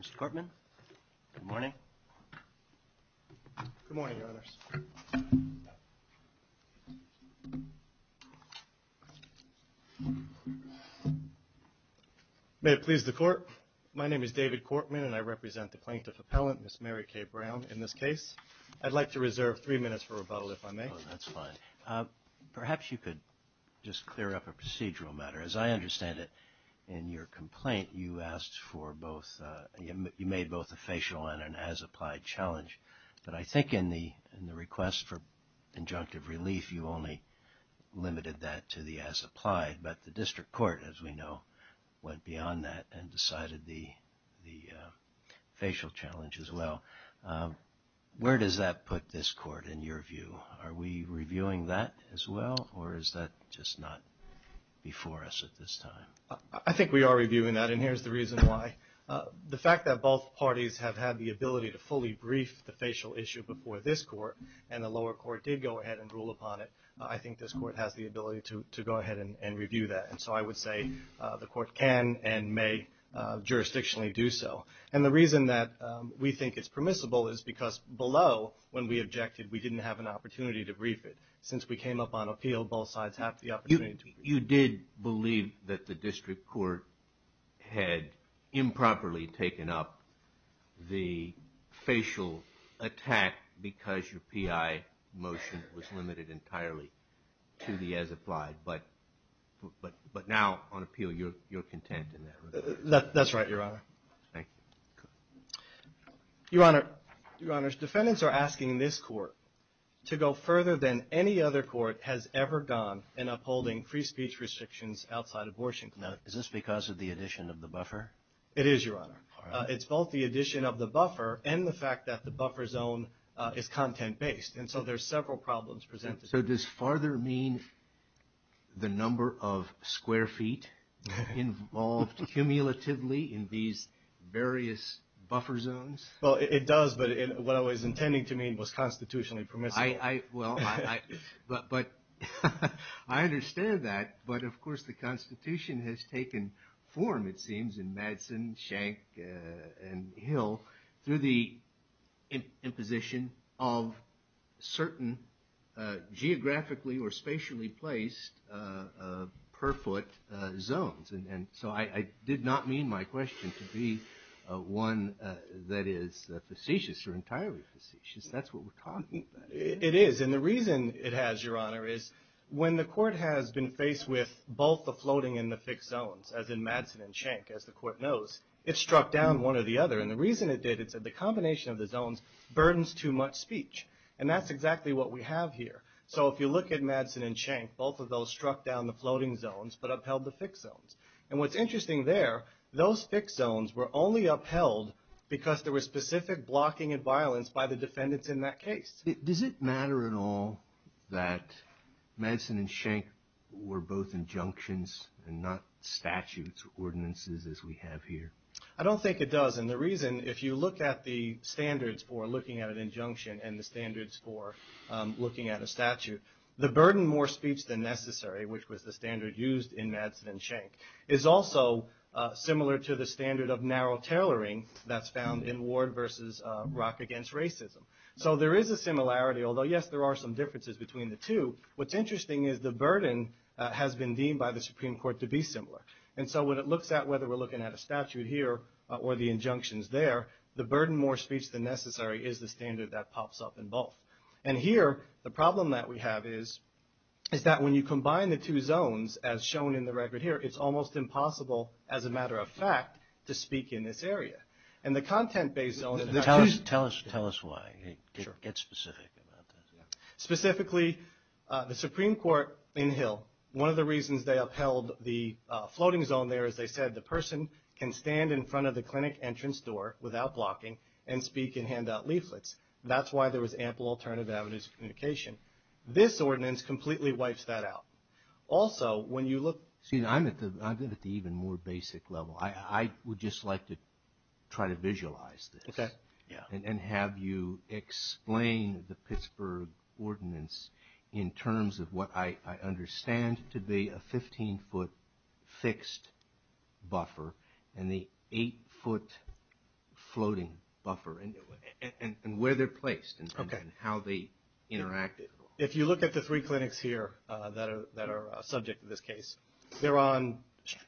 Mr. Cortman, good morning. Good morning, Your Honors. May it please the Court, my name is David Cortman and I represent the plaintiff appellant, Ms. Mary Kay Brown, in this case. I'd like to reserve three minutes for rebuttal, if I may. That's fine. Perhaps you could just clear up a procedural matter. As I understand it, in your complaint, you asked for both, you made both a facial and an as-applied challenge, but I think in the request for injunctive relief, you only limited that to the as-applied, but the District Court, as we know, went beyond that and decided the facial challenge as well. Where does that put this Court, in your view? Are we reviewing that as well, or is that just not before us at this time? I think we are reviewing that, and here's the reason why. The fact that both parties have had the ability to fully brief the facial issue before this Court, and the lower court did go ahead and rule upon it, I think this Court has the ability to go ahead and review that. And so I would say the Court can and may jurisdictionally do so. And the reason that we think it's permissible is because below, when we objected, we didn't have an opportunity to brief it. Since we came up on appeal, both sides have the opportunity. You did believe that the District Court had improperly taken up the facial attack because your P.I. motion was limited entirely to the as-applied, but now on appeal, you're content in that regard. That's right, Your Honor. Thank you. Your Honor, defendants are asking this Court to go further than any other court has ever gone in upholding free speech restrictions outside abortion. Now, is this because of the addition of the buffer? It is, Your Honor. It's both the addition of the buffer and the fact that the buffer zone is content-based, and so there's several problems presented. So does farther mean the number of square feet involved cumulatively in these various buffer zones? Well, it does, but what I was intending to mean was constitutionally permissible. I understand that, but of course the Constitution has taken form, it seems, in Madsen, Schenck, and Hill through the imposition of certain geographically or spatially placed per-foot zones. And so I did not mean my question to be one that is facetious or entirely facetious. That's what we're talking about. It is, and the reason it has, Your Honor, is when the Court has been faced with both the floating and the fixed zones, as in Madsen and Schenck, as the Court knows, it struck down one or the other. And the reason it did is that the combination of the zones burdens too much speech, and that's exactly what we have here. So if you look at Madsen and Schenck, both of those struck down the floating zones but upheld the fixed zones. And what's interesting there, those fixed zones were only upheld because there was specific blocking and violence by the defendants in that case. Does it matter at all that Madsen and Schenck were both injunctions and not statutes or ordinances as we have here? I don't think it does, and the reason, if you look at the standards for looking at an injunction and the standards for looking at a statute, the burden more speech than necessary, which was the standard used in Madsen and Schenck, is also similar to the standard of narrow tailoring that's found in Ward versus Rock against Racism. So there is a similarity, although yes, there are some differences between the two. What's interesting is the burden has been deemed by the Supreme Court to be similar. And so when it looks at whether we're looking at a statute here or the injunctions there, the burden more speech than necessary is the standard that pops up in both. And here, the problem that we have is that when you combine the two zones, as shown in the record here, it's almost impossible, as a matter of fact, to speak in this area. And the content-based zone... Tell us why. Get specific about that. Specifically, the Supreme Court in Hill, one of the reasons they upheld the floating zone there is they said the person can stand in front of the clinic entrance door without blocking and speak and hand out leaflets. That's why there was ample alternative avenues of communication. This ordinance completely wipes that out. Also, when you look... I'm at the even more basic level. I would just like to try to visualize this and have you explain the Pittsburgh Ordinance in terms of what I understand to be a 15-foot fixed buffer and the 8-foot floating buffer and where they're placed and how they interact. If you look at the three clinics here that are subject to this case, they're on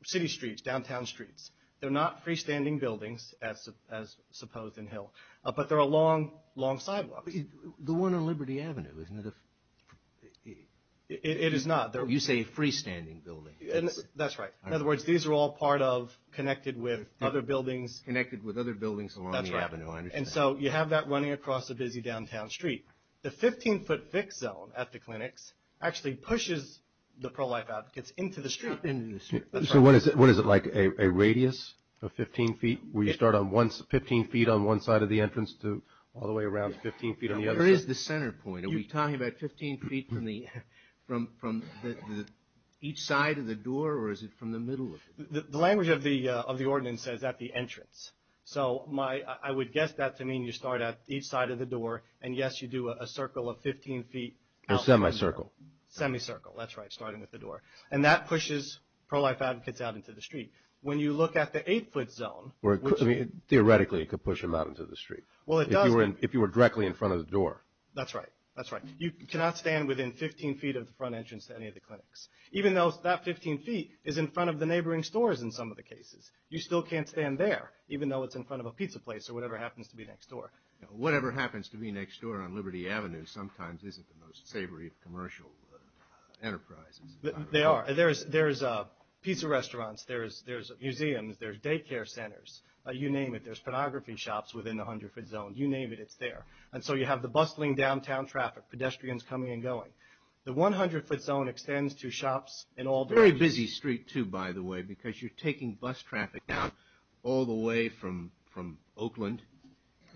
city streets, downtown streets. They're not freestanding buildings, as supposed in Hill, but they're along long sidewalks. The one on Liberty Avenue, isn't it? It is not. You say freestanding buildings. That's right. In other words, these are all part of, connected with other buildings. Connected with other buildings along the avenue, I understand. You have that running across a busy downtown street. The 15-foot fixed zone at the clinics actually pushes the pro-life advocates into the street. Into the street. That's right. What is it like? A radius of 15 feet? Where you start on 15 feet on one side of the entrance to all the way around 15 feet on the other side? Where is the center point? Are we talking about 15 feet from each side of the door or is it from the middle of it? The language of the ordinance says at the entrance. I would guess that to mean you start at each side of the door and yes, you do a circle of 15 feet. A semi-circle. Semi-circle, that's right, starting with the door. That pushes pro-life advocates out into the street. When you look at the 8-foot zone. Theoretically, it could push them out into the street. Well, it does. If you were directly in front of the door. That's right. You cannot stand within 15 feet of the front entrance to any of the clinics, even though that 15 feet is in front of the neighboring stores in some of the cases. You still can't stand there, even though it's in front of a pizza place or whatever happens to be next door. Whatever happens to be next door on Liberty Avenue sometimes isn't the most savory of commercial enterprises. They are. There's pizza restaurants, there's museums, there's daycare centers. You name it. There's pornography shops within the 100-foot zone. You name it, it's there. And so you have the bustling downtown traffic, pedestrians coming and going. The 100-foot zone extends to shops in all... It's a very busy street, too, by the way, because you're taking bus traffic down all the way from Oakland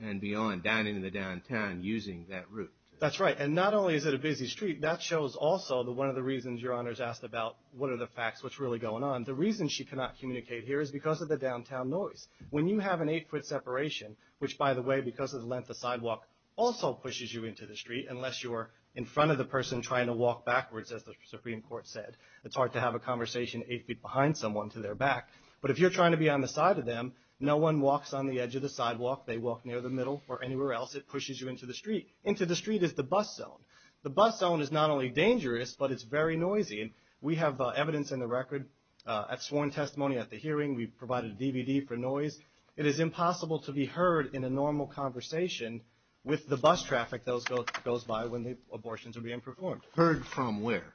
and beyond, down into the downtown, using that route. That's right. And not only is it a busy street, that shows also one of the reasons your Honor's asked about what are the facts, what's really going on. The reason she cannot communicate here is because of the downtown noise. When you have an 8-foot separation, which by the way, because of the length of sidewalk, also pushes you into the street, unless you're in front of the person trying to walk backwards, as the Supreme Court said. It's hard to have a conversation 8 feet behind someone to their back. But if you're trying to be on the side of them, no one walks on the edge of the sidewalk, they walk near the middle, or anywhere else. It pushes you into the street. Into the street is the bus zone. The bus zone is not only dangerous, but it's very noisy. We have evidence in the record at sworn testimony at the hearing. We provided a DVD for noise. It is impossible to be heard in a normal conversation with the bus traffic that goes by when the abortions are being performed. Heard from where?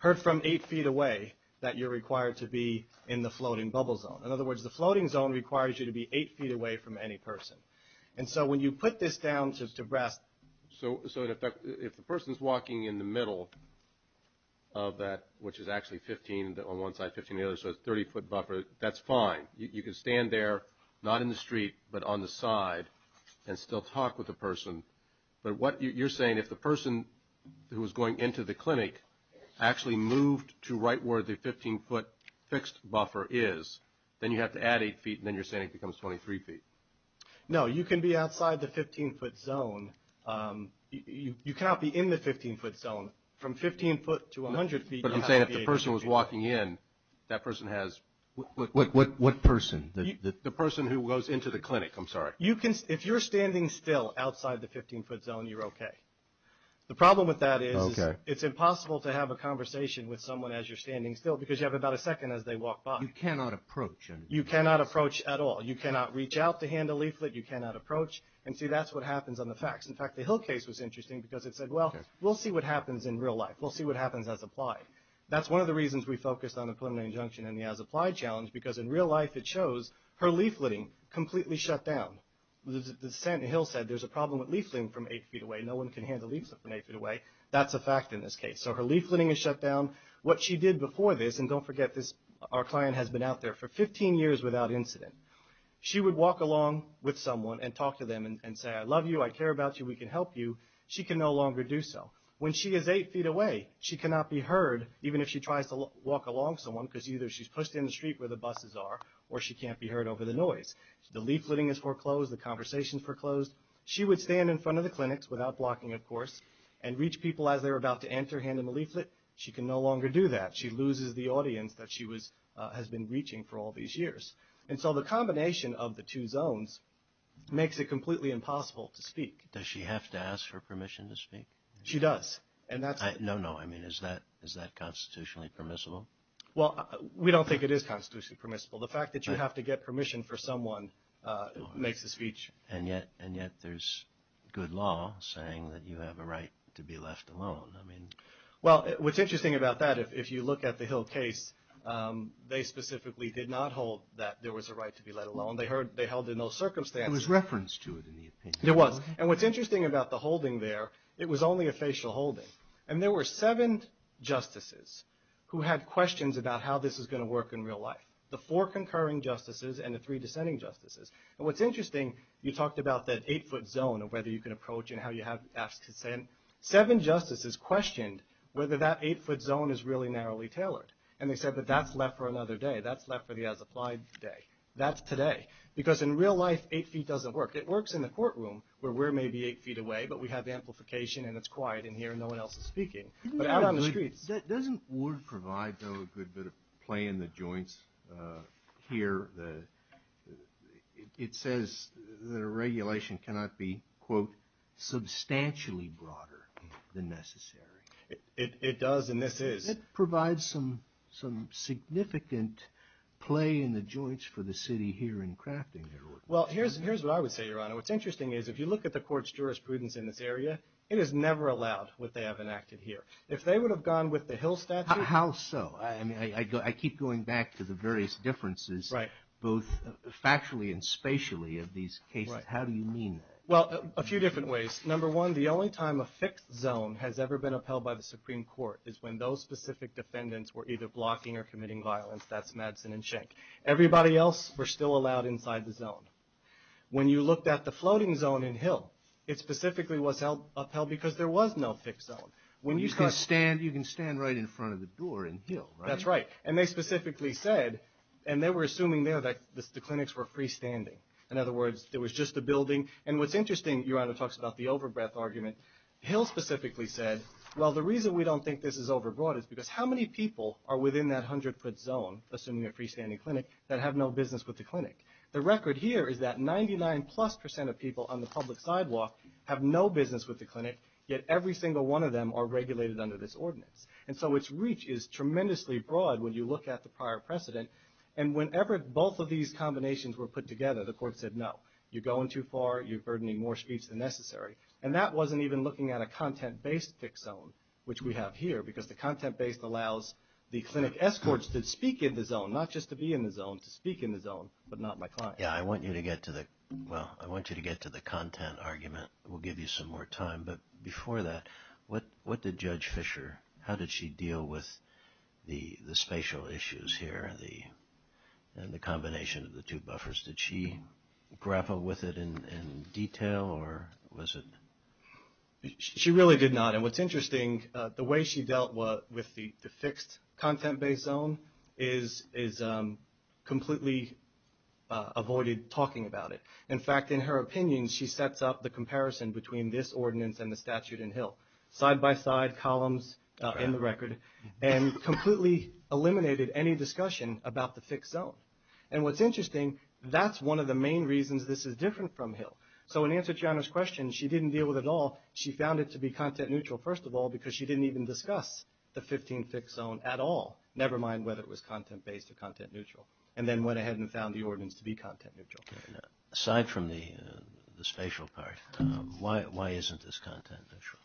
Heard from 8 feet away that you're required to be in the floating bubble zone. In other words, the floating zone requires you to be 8 feet away from any person. And so when you put this down to rest. So, so in effect, if the person's walking in the middle of that, which is actually 15 on one side, 15 on the other, so it's 30 foot buffer, that's fine. You, you can stand there, not in the street, but on the side, and still talk with the person. But what you're saying, if the person who was going into the clinic actually moved to right where the 15 foot fixed buffer is. Then you have to add 8 feet, and then you're saying it becomes 23 feet. No, you can be outside the 15 foot zone. You cannot be in the 15 foot zone. From 15 foot to 100 feet. But I'm saying if the person was walking in, that person has. What, what, what, what person? The, the, the person who goes into the clinic, I'm sorry. You can, if you're standing still outside the 15 foot zone, you're okay. The problem with that is. Okay. It's impossible to have a conversation with someone as you're standing still, because you have about a second as they walk by. You cannot approach. You cannot approach at all. You cannot reach out to hand a leaflet. You cannot approach. And see, that's what happens on the fax. In fact, the Hill case was interesting, because it said, well, we'll see what happens in real life. We'll see what happens as applied. That's one of the reasons we focused on the preliminary injunction and the as applied challenge, because in real life, it shows her leafleting completely shut down. The, the, the Santa Hill said, there's a problem with leafleting from eight feet away. No one can handle leafleting from eight feet away. That's a fact in this case. So her leafleting is shut down. What she did before this, and don't forget this, our client has been out there for 15 years without incident. She would walk along with someone and talk to them and, and say, I love you. I care about you. We can help you. She can no longer do so. When she is eight feet away, she cannot be heard, even if she tries to walk along someone. Because either she's pushed in the street where the buses are, or she can't be heard over the noise. The leafleting is foreclosed. The conversation's foreclosed. She would stand in front of the clinics, without blocking of course, and reach people as they're about to enter, hand them a leaflet. She can no longer do that. She loses the audience that she was has been reaching for all these years. And so the combination of the two zones makes it completely impossible to speak. Does she have to ask for permission to speak? She does. And that's. No, no, I mean, is that, is that constitutionally permissible? Well, we don't think it is constitutionally permissible. The fact that you have to get permission for someone makes the speech. And yet, and yet there's good law saying that you have a right to be left alone. I mean. Well, what's interesting about that, if you look at the Hill case, they specifically did not hold that there was a right to be let alone. They heard, they held in those circumstances. It was referenced to it in the opinion. It was. And what's interesting about the holding there, it was only a facial holding. And there were seven justices who had questions about how this is going to work in real life, the four concurring justices and the three dissenting justices. And what's interesting, you talked about that eight foot zone and whether you can approach and how you have to ask consent. Seven justices questioned whether that eight foot zone is really narrowly tailored. And they said that that's left for another day. That's left for the as applied day. That's today. Because in real life, eight feet doesn't work. It works in the courtroom, where we're maybe eight feet away, but we have amplification and it's quiet in here and no one else is speaking, but out on the streets. Doesn't Ward provide, though, a good bit of play in the joints here? It says that a regulation cannot be, quote, substantially broader than necessary. It does and this is. It provides some significant play in the joints for the city here in crafting their ordinance. Well, here's what I would say, Your Honor. What's interesting is if you look at the court's jurisprudence in this area, it is never allowed what they have enacted here. If they would have gone with the Hill statute. How so? I mean, I keep going back to the various differences. Right. Both factually and spatially of these cases. How do you mean that? Well, a few different ways. Number one, the only time a fixed zone has ever been upheld by the Supreme Court is when those specific defendants were either blocking or committing violence, that's Madsen and Schenck. Everybody else were still allowed inside the zone. When you looked at the floating zone in Hill, it specifically was upheld because there was no fixed zone. When you start- You can stand right in front of the door in Hill, right? That's right. And they specifically said, and they were assuming there that the clinics were freestanding. In other words, there was just a building. And what's interesting, Your Honor, talks about the overbreath argument. Hill specifically said, well, the reason we don't think this is overbroad is because how many people are within that 100 foot zone, assuming a freestanding clinic, that have no business with the clinic? The record here is that 99 plus percent of people on the public sidewalk have no business with the clinic, yet every single one of them are regulated under this ordinance. And so its reach is tremendously broad when you look at the prior precedent. And whenever both of these combinations were put together, the court said no. You're going too far, you're burdening more streets than necessary. And that wasn't even looking at a content-based fixed zone, which we have here, because the content-based allows the clinic escorts to speak in the zone, not just to be in the zone, to speak in the zone, but not my client. Yeah, I want you to get to the, well, I want you to get to the content argument. We'll give you some more time. But before that, what did Judge Fischer, how did she deal with the spatial issues here, and the combination of the two buffers? Did she grapple with it in detail, or was it? She really did not. And what's interesting, the way she dealt with the fixed content-based zone, is completely avoided talking about it. In fact, in her opinion, she sets up the comparison between this ordinance and the statute in Hill. Side by side, columns in the record. And completely eliminated any discussion about the fixed zone. And what's interesting, that's one of the main reasons this is different from Hill. So in answer to Jana's question, she didn't deal with it all. She found it to be content neutral, first of all, because she didn't even discuss the 15 fixed zone at all. Never mind whether it was content-based or content-neutral. And then went ahead and found the ordinance to be content-neutral. Aside from the spatial part, why isn't this content-neutral?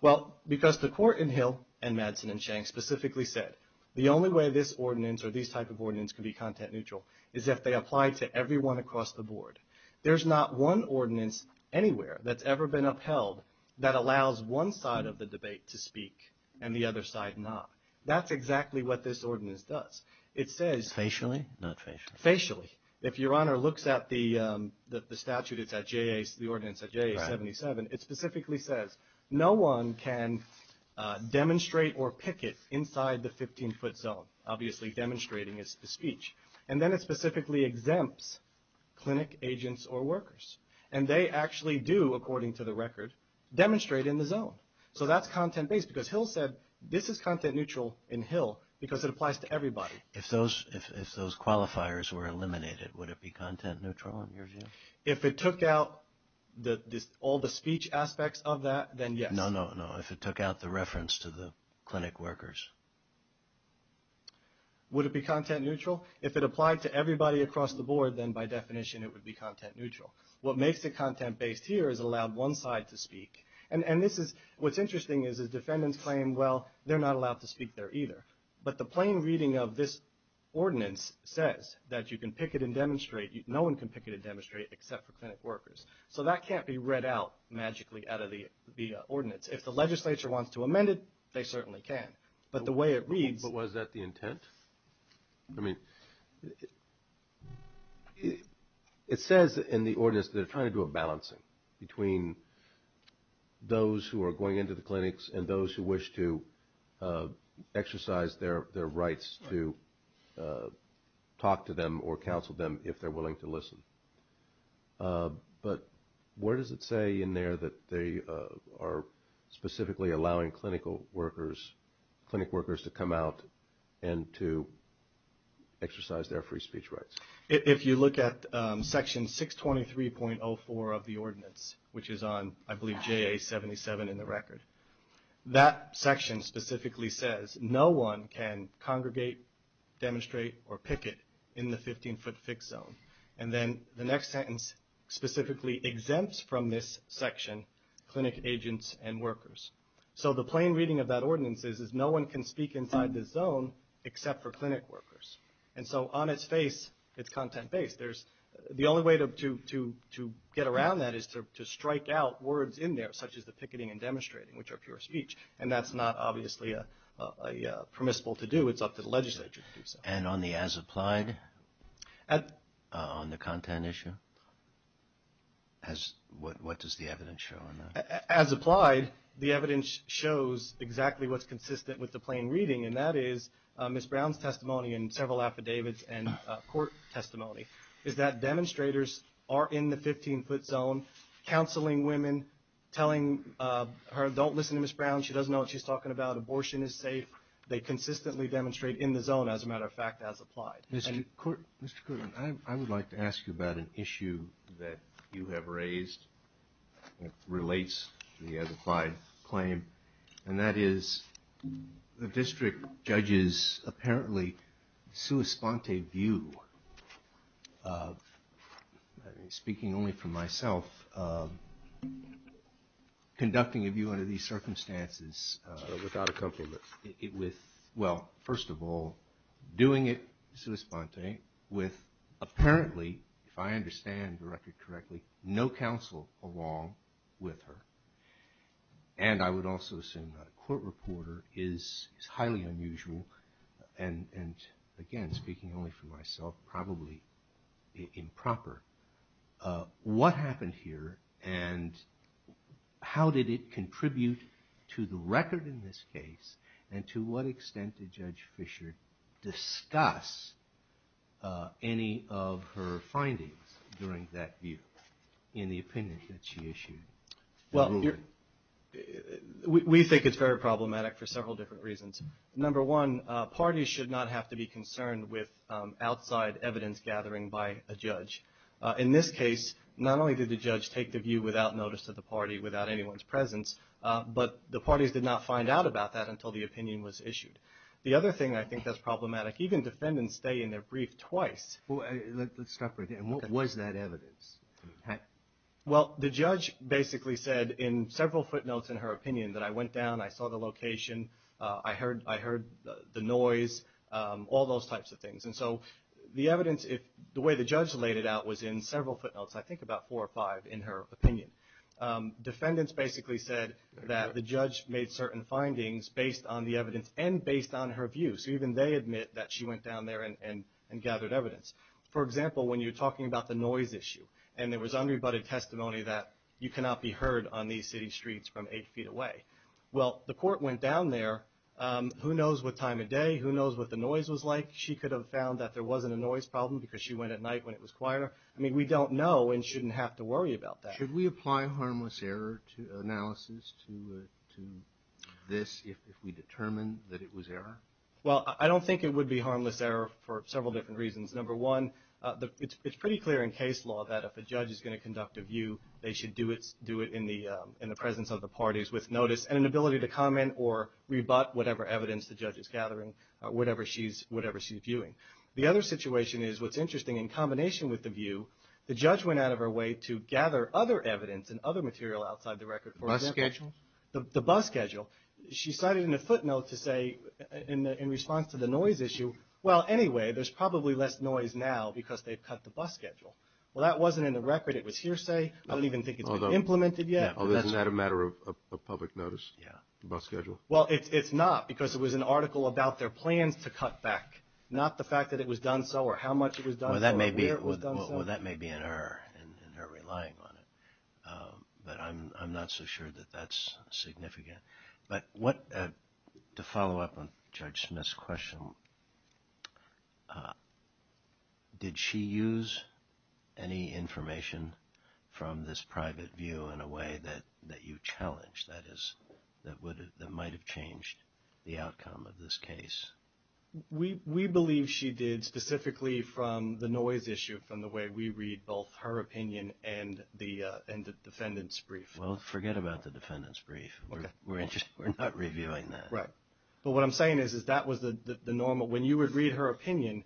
Well, because the court in Hill, and Madsen and Shank specifically said, the only way this ordinance or this type of ordinance can be content-neutral, is if they apply to everyone across the board. There's not one ordinance anywhere that's ever been upheld that allows one side of the debate to speak and the other side not. That's exactly what this ordinance does. It says- Facially? Not facially? Facially. If your honor looks at the statute, it's at JAS, the ordinance at JAS 77. It specifically says, no one can demonstrate or picket inside the 15 foot zone, obviously demonstrating a speech. And then it specifically exempts clinic agents or workers. And they actually do, according to the record, demonstrate in the zone. So that's content-based because Hill said, this is content-neutral in Hill because it applies to everybody. If those qualifiers were eliminated, would it be content-neutral in your view? If it took out all the speech aspects of that, then yes. No, no, no. If it took out the reference to the clinic workers. Would it be content-neutral? If it applied to everybody across the board, then by definition it would be content-neutral. What makes it content-based here is it allowed one side to speak. And this is, what's interesting is the defendants claim, well, they're not allowed to speak there either. But the plain reading of this ordinance says that you can picket and demonstrate, no one can picket and demonstrate except for clinic workers. So that can't be read out magically out of the ordinance. If the legislature wants to amend it, they certainly can. But the way it reads- But was that the intent? I mean, it says in the ordinance that they're trying to do a balancing between those who are going into the clinics and those who wish to exercise their rights to talk to them or counsel them if they're willing to listen. But where does it say in there that they are specifically allowing clinic workers to come out and to exercise their free speech rights? If you look at section 623.04 of the ordinance, which is on, I believe, JA 77 in the record. That section specifically says no one can congregate, demonstrate, or picket in the 15-foot fixed zone. And then the next sentence specifically exempts from this section clinic agents and workers. So the plain reading of that ordinance is no one can speak inside this zone except for clinic workers. And so on its face, it's content-based. The only way to get around that is to strike out words in there, such as the picketing and demonstrating, which are pure speech. And that's not obviously a permissible to do. It's up to the legislature to do so. And on the as-applied, on the content issue? What does the evidence show on that? As-applied, the evidence shows exactly what's consistent with the plain reading. And that is Ms. Brown's testimony in several affidavits and court testimony. Is that demonstrators are in the 15-foot zone, counseling women, telling her, don't listen to Ms. Brown. She doesn't know what she's talking about. Abortion is safe. They consistently demonstrate in the zone, as a matter of fact, as-applied. Mr. Court, Mr. Court, I would like to ask you about an issue that you have raised that relates to the as-applied claim. And that is the district judge's, apparently, sua sponte view of, speaking only for myself, of conducting a view under these circumstances without a couple of, well, first of all, doing it sua sponte with, apparently, if I understand the record correctly, no counsel along with her. And I would also assume that a court reporter is highly unusual. And, again, speaking only for myself, probably improper. What happened here and how did it contribute to the record in this case? And to what extent did Judge Fischer discuss any of her findings during that view? In the opinion that she issued. Well, we think it's very problematic for several different reasons. Number one, parties should not have to be concerned with outside evidence gathering by a judge. In this case, not only did the judge take the view without notice of the party, without anyone's presence, but the parties did not find out about that until the opinion was issued. The other thing I think that's problematic, even defendants stay in their brief twice. Well, let's stop right there. And what was that evidence? Well, the judge basically said in several footnotes in her opinion that I went down, I saw the location, I heard the noise, all those types of things. And so the evidence, the way the judge laid it out was in several footnotes, I think about four or five in her opinion. Defendants basically said that the judge made certain findings based on the evidence and based on her view. So even they admit that she went down there and gathered evidence. For example, when you're talking about the noise issue and there was unrebutted testimony that you cannot be heard on these city streets from eight feet away. Well, the court went down there, who knows what time of day, who knows what the noise was like. She could have found that there wasn't a noise problem because she went at night when it was quieter. I mean, we don't know and shouldn't have to worry about that. Should we apply harmless error analysis to this if we determine that it was error? Well, I don't think it would be harmless error for several different reasons. Number one, it's pretty clear in case law that if a judge is going to conduct a view, they should do it in the presence of the parties with notice and an ability to comment or rebut whatever evidence the judge is gathering, whatever she's viewing. The other situation is what's interesting, in combination with the view, the judge went out of her way to gather other evidence and other material outside the record. The bus schedule? The bus schedule. She cited in a footnote to say in response to the noise issue, well, anyway, there's probably less noise now because they've cut the bus schedule. Well, that wasn't in the record. It was hearsay. I don't even think it's been implemented yet. Well, isn't that a matter of public notice, the bus schedule? Well, it's not because it was an article about their plans to cut back, not the fact that it was done so or how much it was done so or where it was done so. Well, that may be in her relying on it, but I'm not so sure that that's significant. But what, to follow up on Judge Smith's question, did she use any information from this private view in a way that you challenged, that is, that might have changed the outcome of this case? We believe she did, specifically from the noise issue, from the way we read both her opinion and the defendant's brief. Well, forget about the defendant's brief. We're not reviewing that. Right. But what I'm saying is, is that was the normal. When you would read her opinion,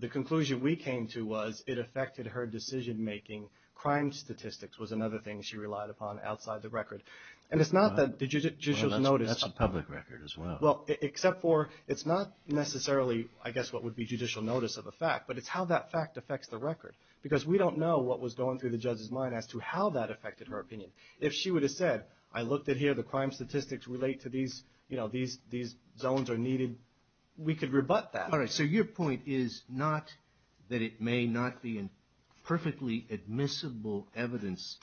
the conclusion we came to was it affected her decision-making. Crime statistics was another thing she relied upon outside the record. And it's not that the judicial notice... Well, that's a public record as well. Well, except for it's not necessarily, I guess, what would be judicial notice of a fact, but it's how that fact affects the record. Because we don't know what was going through the judge's mind as to how that affected her opinion. If she would have said, I looked at here, the crime statistics relate to these zones are needed, we could rebut that. All right, so your point is not that it may not be in perfectly admissible evidence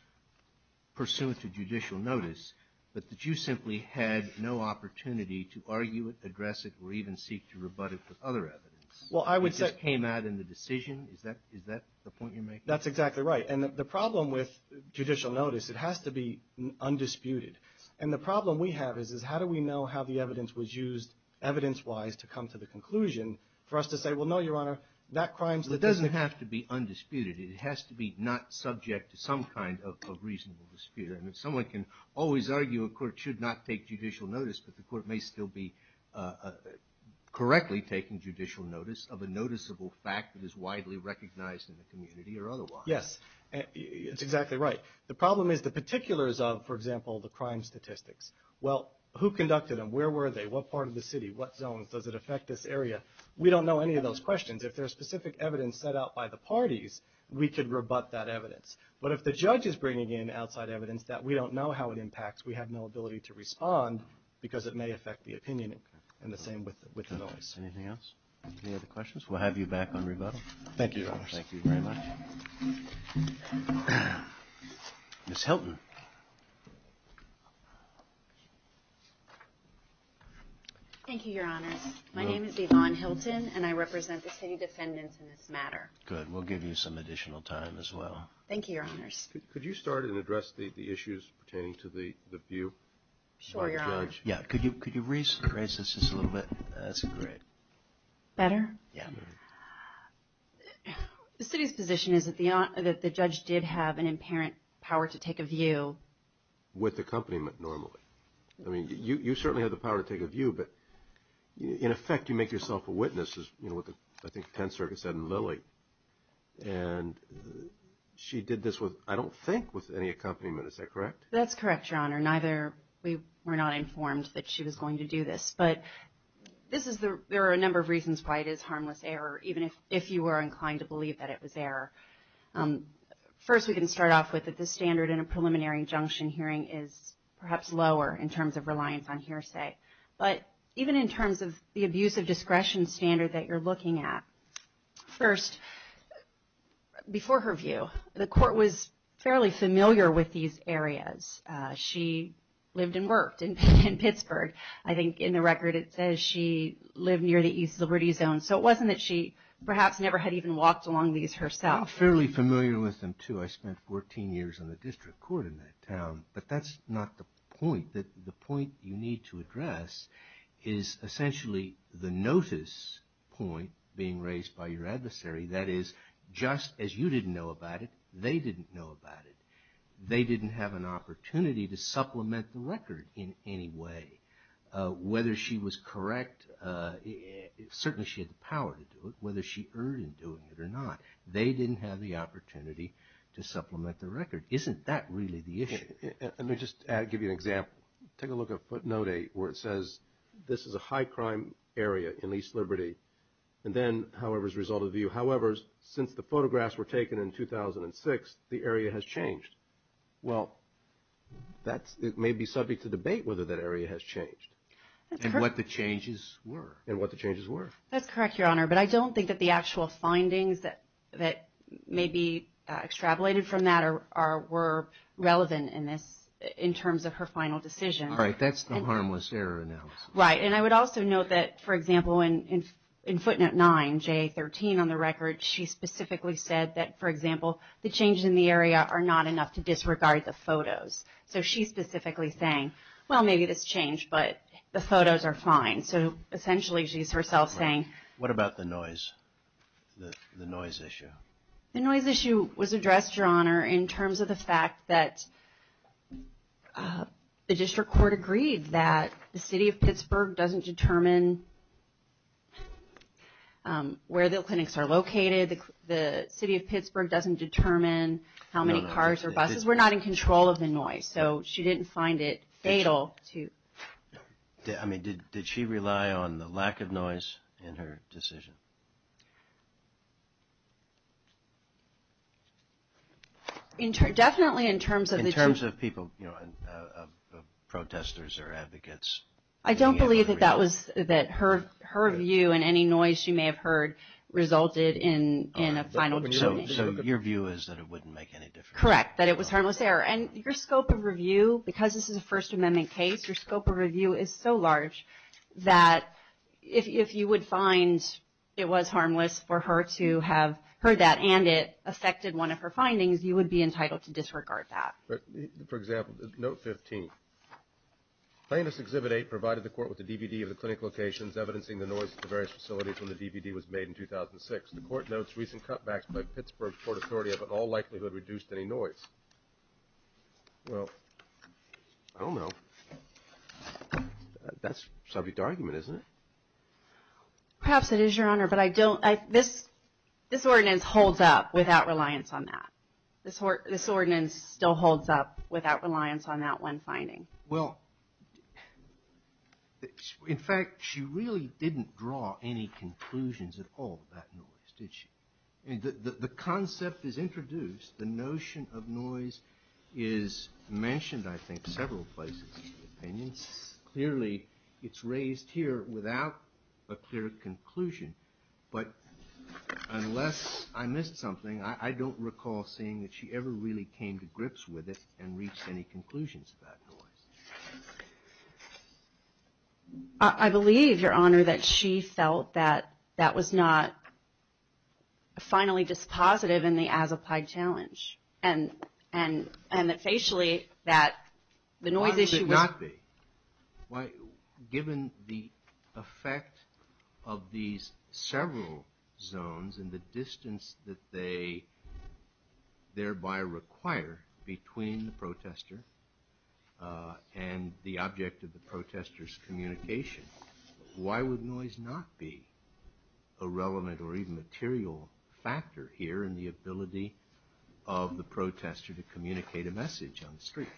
pursuant to judicial notice, but that you simply had no opportunity to argue it, address it, or even seek to rebut it with other evidence. Well, I would say... It just came out in the decision, is that the point you're making? That's exactly right. And the problem with judicial notice, it has to be undisputed. And the problem we have is, is how do we know how the evidence was used evidence-wise to come to the conclusion for us to say, well, no, Your Honor, that crime statistic... It doesn't have to be undisputed. It has to be not subject to some kind of reasonable dispute. I mean, someone can always argue a court should not take judicial notice, but the court may still be correctly taking judicial notice of a noticeable fact that is widely recognized in the community or otherwise. Yes, it's exactly right. The problem is the particulars of, for example, the crime statistics. Well, who conducted them? Where were they? What part of the city? What zones? Does it affect this area? We don't know any of those questions. If there's specific evidence set out by the parties, we could rebut that evidence. But if the judge is bringing in outside evidence that we don't know how it impacts, we have no ability to respond because it may affect the opinion. And the same with the notice. Anything else? Any other questions? We'll have you back on rebuttal. Thank you, Your Honor. Thank you very much. Ms. Hilton. Thank you, Your Honors. My name is Yvonne Hilton, and I represent the city defendants in this matter. Good, we'll give you some additional time as well. Thank you, Your Honors. Could you start and address the issues pertaining to the view? Sure, Your Honor. Yeah, could you raise this just a little bit? That's great. Better? Yeah. The city's position is that the judge did have an apparent power to take a view. With accompaniment, normally. I mean, you certainly have the power to take a view, but in effect, you make yourself a witness, as I think the 10th Circuit said in Lilly. And she did this with, I don't think, with any accompaniment. Is that correct? That's correct, Your Honor. Neither, we were not informed that she was going to do this. But there are a number of reasons why it is harmless error, even if you were inclined to believe that it was error. First, we can start off with that the standard in a preliminary injunction hearing is perhaps lower in terms of reliance on hearsay. But even in terms of the abuse of discretion standard that you're looking at, first, before her view, the court was fairly familiar with these areas. She lived and worked in Pittsburgh, I think, in the record it says she lived near the East Liberty Zone. So it wasn't that she perhaps never had even walked along these herself. I'm fairly familiar with them, too. I spent 14 years in the district court in that town. But that's not the point. The point you need to address is essentially the notice point being raised by your adversary. That is, just as you didn't know about it, they didn't know about it. They didn't have an opportunity to supplement the record in any way. Whether she was correct, certainly she had the power to do it, whether she erred in doing it or not, they didn't have the opportunity to supplement the record. Isn't that really the issue? Let me just give you an example. Take a look at footnote 8 where it says, this is a high crime area in East Liberty. And then, however, as a result of the view, however, since the photographs were taken in 2006, the area has changed. Well, that may be subject to debate whether that area has changed. And what the changes were. And what the changes were. That's correct, Your Honor. But I don't think that the actual findings that may be extrapolated from that were relevant in this, in terms of her final decision. All right. That's the harmless error analysis. Right. And I would also note that, for example, in footnote 9, J13 on the record, she specifically said that, for example, the changes in the area are not enough to disregard the photos. So she's specifically saying, well, maybe this changed, but the photos are fine. So essentially, she's herself saying. What about the noise, the noise issue? The noise issue was addressed, Your Honor, in terms of the fact that the district court agreed that the city of Pittsburgh doesn't determine where the clinics are located. The city of Pittsburgh doesn't determine how many cars or buses. We're not in control of the noise. So she didn't find it fatal to. I mean, did she rely on the lack of noise in her decision? Definitely in terms of the. In terms of people, you know, protesters or advocates. I don't believe that that was that her view and any noise you may have heard resulted in a final decision. So your view is that it wouldn't make any difference. Correct, that it was harmless error. And your scope of review, because this is a First Amendment case, your scope of review is so large that if you would find it was harmless for her to have heard that and it affected one of her findings, you would be entitled to disregard that. For example, note 15, plaintiff's Exhibit 8 provided the court with a DVD of the clinic locations evidencing the noise at the various facilities when the DVD was made in 2006. The court notes recent cutbacks by Pittsburgh court authority have in all likelihood reduced any noise. Well, I don't know. That's Soviet argument, isn't it? Perhaps it is, Your Honor, but I don't. This ordinance holds up without reliance on that. This ordinance still holds up without reliance on that one finding. Well, in fact, she really didn't draw any conclusions at all about noise, did she? The concept is introduced. The notion of noise is mentioned, I think, several places in the opinion. Clearly, it's raised here without a clear conclusion. But unless I missed something, I don't recall seeing that she ever really came to grips with it and reached any conclusions about noise. I believe, Your Honor, that she felt that that was not finally dispositive in the as-applied challenge. And that facially, that the noise issue was- Why would it not be? Given the effect of these several zones and the distance that they thereby require between the protester and the object of the protester's communication, why would noise not be a relevant or even material factor here in the ability of the protester to communicate a message on the street?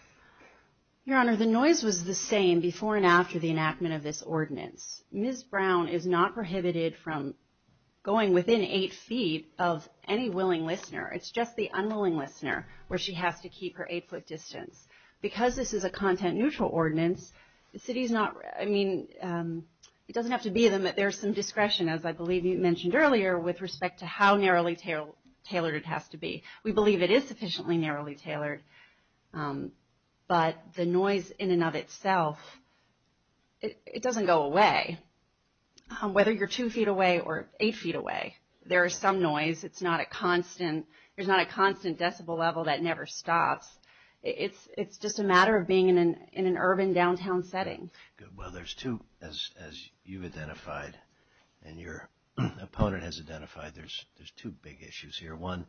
Your Honor, the noise was the same before and after the enactment of this ordinance. Ms. Brown is not prohibited from going within eight feet of any willing listener. It's just the unwilling listener where she has to keep her eight-foot distance. Because this is a content-neutral ordinance, the city's not- I mean, it doesn't have to be that there's some discretion, as I believe you mentioned earlier, with respect to how narrowly tailored it has to be. We believe it is sufficiently narrowly tailored. But the noise in and of itself, it doesn't go away. Whether you're two feet away or eight feet away, there is some noise. It's not a constant- There's not a constant decibel level that never stops. It's just a matter of being in an urban downtown setting. Good. Well, there's two, as you've identified and your opponent has identified, there's two big issues here. One,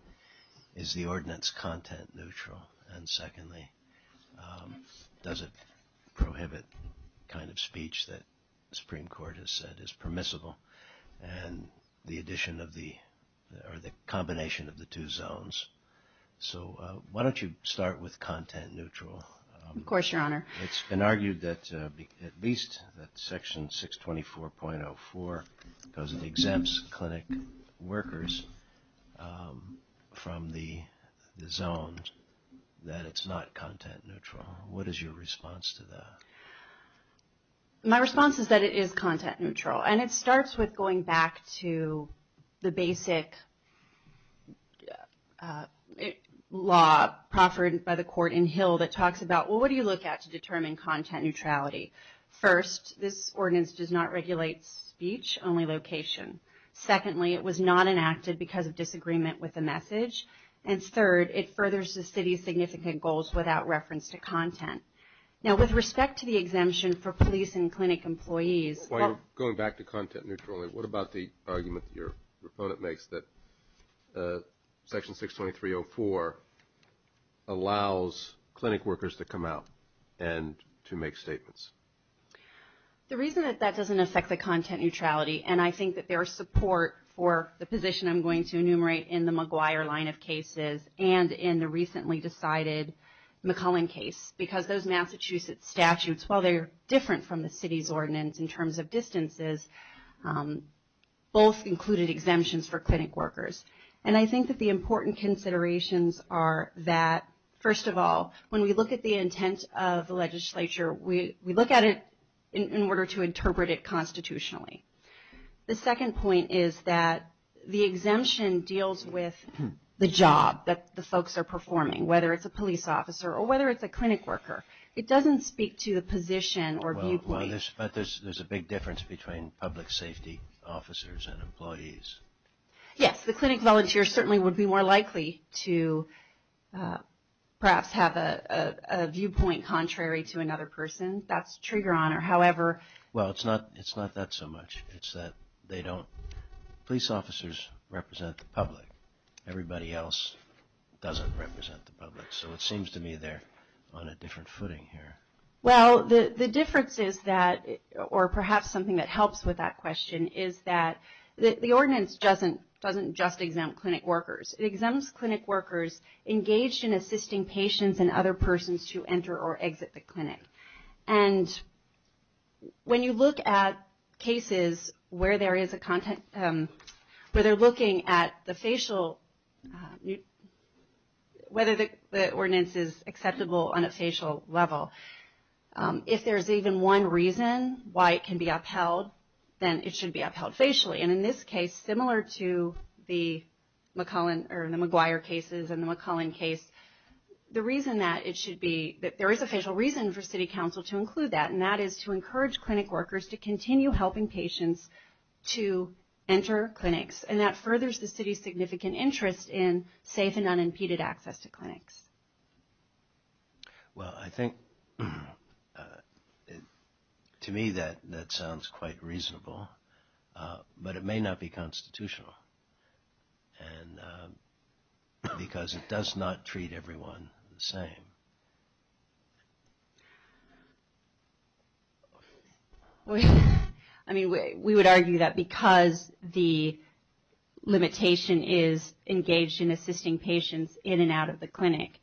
is the ordinance content-neutral? And secondly, does it prohibit the kind of speech that the Supreme Court has said is permissible? And the addition of the- or the combination of the two zones. So, why don't you start with content-neutral? Of course, Your Honor. It's been argued that at least that Section 624.04, because it exempts clinic workers from the zone, that it's not content-neutral. What is your response to that? My response is that it is content-neutral. And it starts with going back to the basic law proffered by the court in Hill that talks about, well, what do you look at to determine content-neutrality? First, this ordinance does not regulate speech, only location. Secondly, it was not enacted because of disagreement with the message. And third, it furthers the city's significant goals without reference to content. Now, with respect to the exemption for police and clinic employees- While you're going back to content-neutrality, what about the argument your opponent makes that Section 623.04 allows clinic workers to come out and to make statements? The reason that that doesn't affect the content-neutrality, and I think that there is support for the position I'm going to enumerate in the McGuire line of cases and in the recently decided McCullen case, because those Massachusetts statutes, while they're different from the city's ordinance in terms of distances, both included exemptions for clinic workers. And I think that the important considerations are that, first of all, when we look at the intent of the legislature, we look at it in order to interpret it constitutionally. The second point is that the exemption deals with the job that the folks are performing, whether it's a police officer or whether it's a clinic worker. It doesn't speak to the position or viewpoint. But there's a big difference between public safety officers and employees. Yes, the clinic volunteers certainly would be more likely to perhaps have a viewpoint contrary to another person, that's trigger on, or however- Well, it's not that so much. It's that they don't- police officers represent the public. Everybody else doesn't represent the public. So it seems to me they're on a different footing here. Well, the difference is that, or perhaps something that helps with that question, is that the ordinance doesn't just exempt clinic workers. It exempts clinic workers engaged in assisting patients and other persons to enter or exit the clinic. And when you look at cases where there is a content, where they're looking at the facial, whether the ordinance is acceptable on a facial level, if there's even one reason why it can be upheld, then it should be upheld facially. And in this case, similar to the McGuire cases and the McCullen case, the reason that it should be, that there is a facial reason for city council to include that, and that is to encourage clinic workers to continue helping patients to enter clinics. And that furthers the city's significant interest in safe and unimpeded access to clinics. Well, I think, to me, that sounds quite reasonable. But it may not be constitutional. And because it does not treat everyone the same. I mean, we would argue that because the limitation is engaged in assisting patients in and out of the clinic,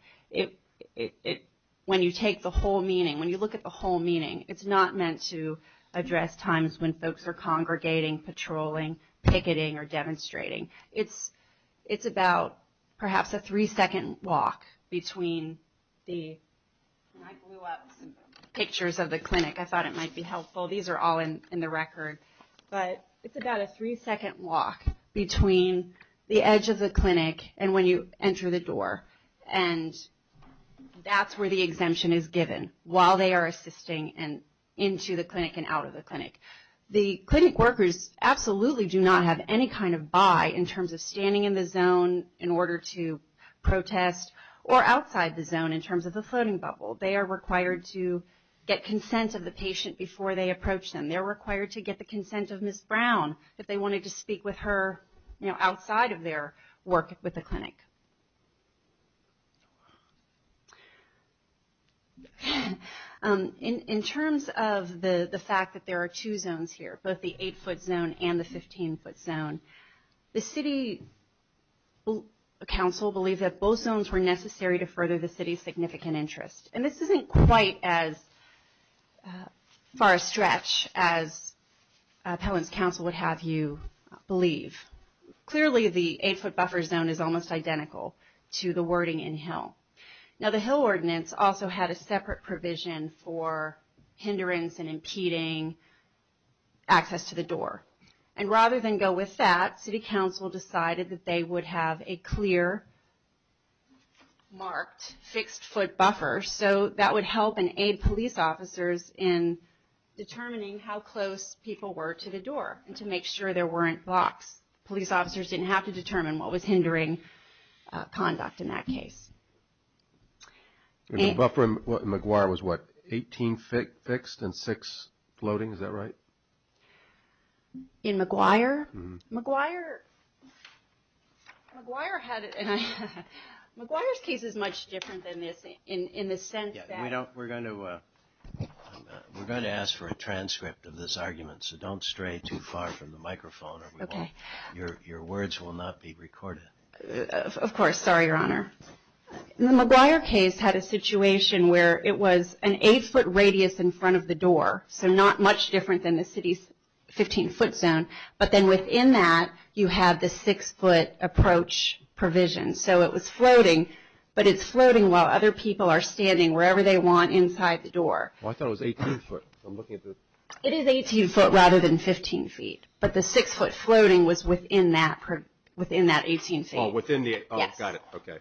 when you take the whole meaning, when you look at the whole meaning, it's not meant to address times when folks are congregating, patrolling, picketing, or demonstrating. It's about, perhaps, a three-second walk between the, I blew up some pictures of the clinic. I thought it might be helpful. These are all in the record. But it's about a three-second walk between the edge of the clinic and when you enter the door. And that's where the exemption is given, while they are assisting and into the clinic and out of the clinic. The clinic workers absolutely do not have any kind of buy in terms of standing in the zone in order to protest, or outside the zone in terms of the floating bubble. They are required to get consent of the patient before they approach them. They're required to get the consent of Ms. Brown if they wanted to speak with her, you know, outside of their work with the clinic. In terms of the fact that there are two zones here, both the 8-foot zone and the 15-foot zone, the city council believed that both zones were necessary to further the city's significant interest. And this isn't quite as far a stretch as appellant's council would have you believe. Clearly, the 8-foot buffer zone is almost identical to the wording in Hill. Now, the Hill ordinance also had a separate provision for hindrance and impeding access to the door. And rather than go with that, city council decided that they would have a clear, marked, fixed-foot buffer. So that would help and aid police officers in determining how close people were to the door and to make sure there weren't blocks. Police officers didn't have to determine what was hindering conduct in that case. The buffer in McGuire was what, 18 fixed and 6 floating, is that right? In McGuire? McGuire had it... McGuire's case is much different than this in the sense that... We're going to ask for a transcript of this argument, so don't stray too far from the microphone. Your words will not be recorded. Of course. Sorry, Your Honor. The McGuire case had a situation where it was an 8-foot radius in front of the door. So not much different than the city's 15-foot zone. But then within that, you have the 6-foot approach provision. So it was floating, but it's floating while other people are standing. Wherever they want, inside the door. I thought it was 18-foot. It is 18-foot rather than 15-feet. But the 6-foot floating was within that 18-feet. Oh, within the... Yes. Oh, got it. Okay.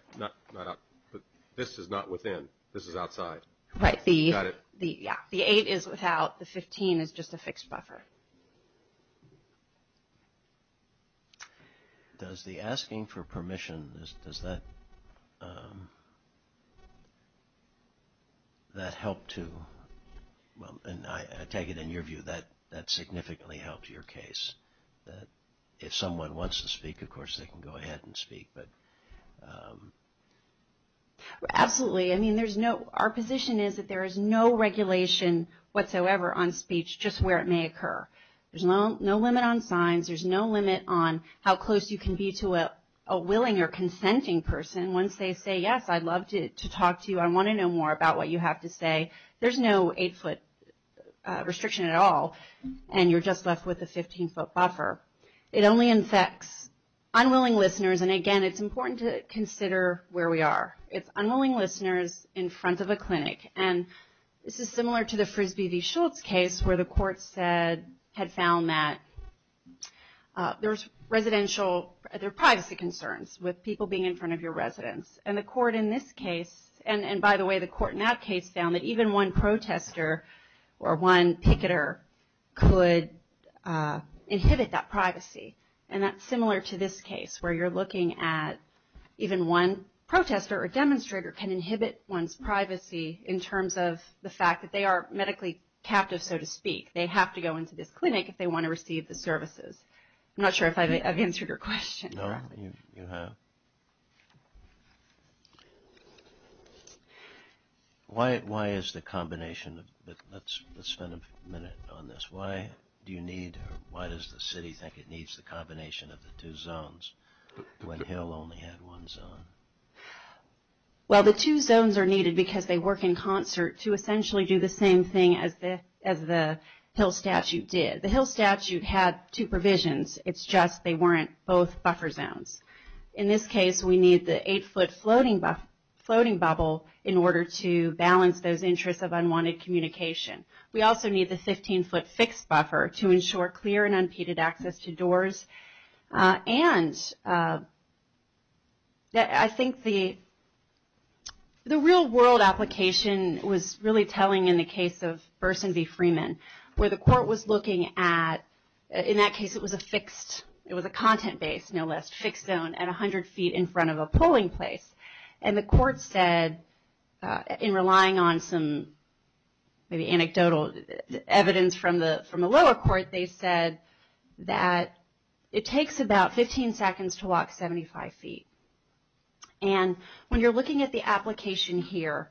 This is not within. This is outside. Right. Got it. The 8 is without. The 15 is just a fixed buffer. Does the asking for permission, does that help to... Well, and I take it in your view that that significantly helped your case. That if someone wants to speak, of course, they can go ahead and speak. But... Absolutely. I mean, there's no... Our position is that there is no regulation whatsoever on speech, just where it may occur. There's no limit on signs. There's no limit on how close you can be to a willing or consenting person once they say, yes, I'd love to talk to you. I want to know more about what you have to say. There's no 8-foot restriction at all, and you're just left with a 15-foot buffer. It only infects unwilling listeners. And, again, it's important to consider where we are. It's unwilling listeners in front of a clinic. And this is similar to the Frisbee v. Schultz case where the court said, had found that there's residential, there are privacy concerns with people being in front of your residence. And the court in this case, and, by the way, the court in that case found that even one protester or one picketer could inhibit that privacy. And that's similar to this case where you're looking at even one protester or demonstrator can inhibit one's privacy in terms of the fact that they are medically captive, so to speak. They have to go into this clinic if they want to receive the services. I'm not sure if I've answered your question correctly. No, you have. Why is the combination of, let's spend a minute on this. Why do you need, or why does the city think it needs the combination of the two zones when Hill only had one zone? Well, the two zones are needed because they work in concert to essentially do the same thing as the Hill statute did. The Hill statute had two provisions. It's just they weren't both buffer zones. In this case, we need the eight-foot floating bubble in order to balance those interests of unwanted communication. We also need the 15-foot fixed buffer to ensure clear and unpeded access to doors. And I think the real-world application was really telling in the case of Burson v. Freeman, where the court was looking at, in that case it was a fixed, it was a content-based, no less, fixed zone at 100 feet in front of a polling place. And the court said, in relying on some maybe anecdotal evidence from the lower court, they said that it takes about 15 seconds to walk 75 feet. And when you're looking at the application here,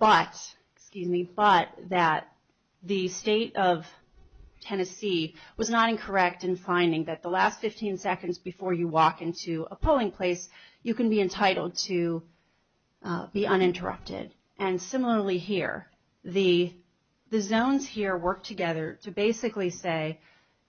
but, excuse me, but that the state of Tennessee was not incorrect in finding that the last 15 seconds before you walk into a polling place, you can be entitled to be uninterrupted. And similarly here, the zones here work together to basically say,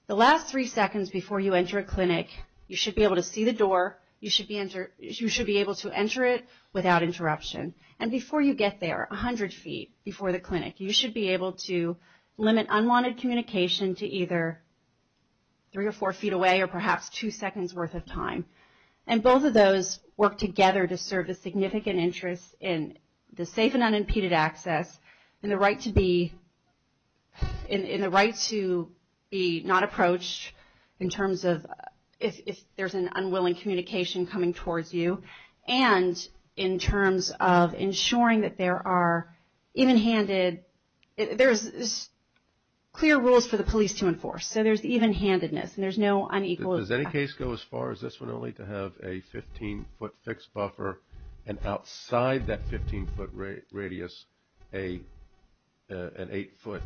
the last three seconds before you enter a clinic, you should be able to see the door, you should be able to enter it without interruption. And before you get there, 100 feet before the clinic, you should be able to limit unwanted communication to either three or four feet away or perhaps two seconds' worth of time. And both of those work together to serve a significant interest in the safe and unimpeded access and the right to be not approached in terms of if there's an unwilling communication coming towards you and in terms of ensuring that there are even-handed, there's clear rules for the police to enforce. So there's even-handedness and there's no unequals. Does any case go as far as this one only to have a 15-foot fixed buffer and outside that 15-foot radius an 8-foot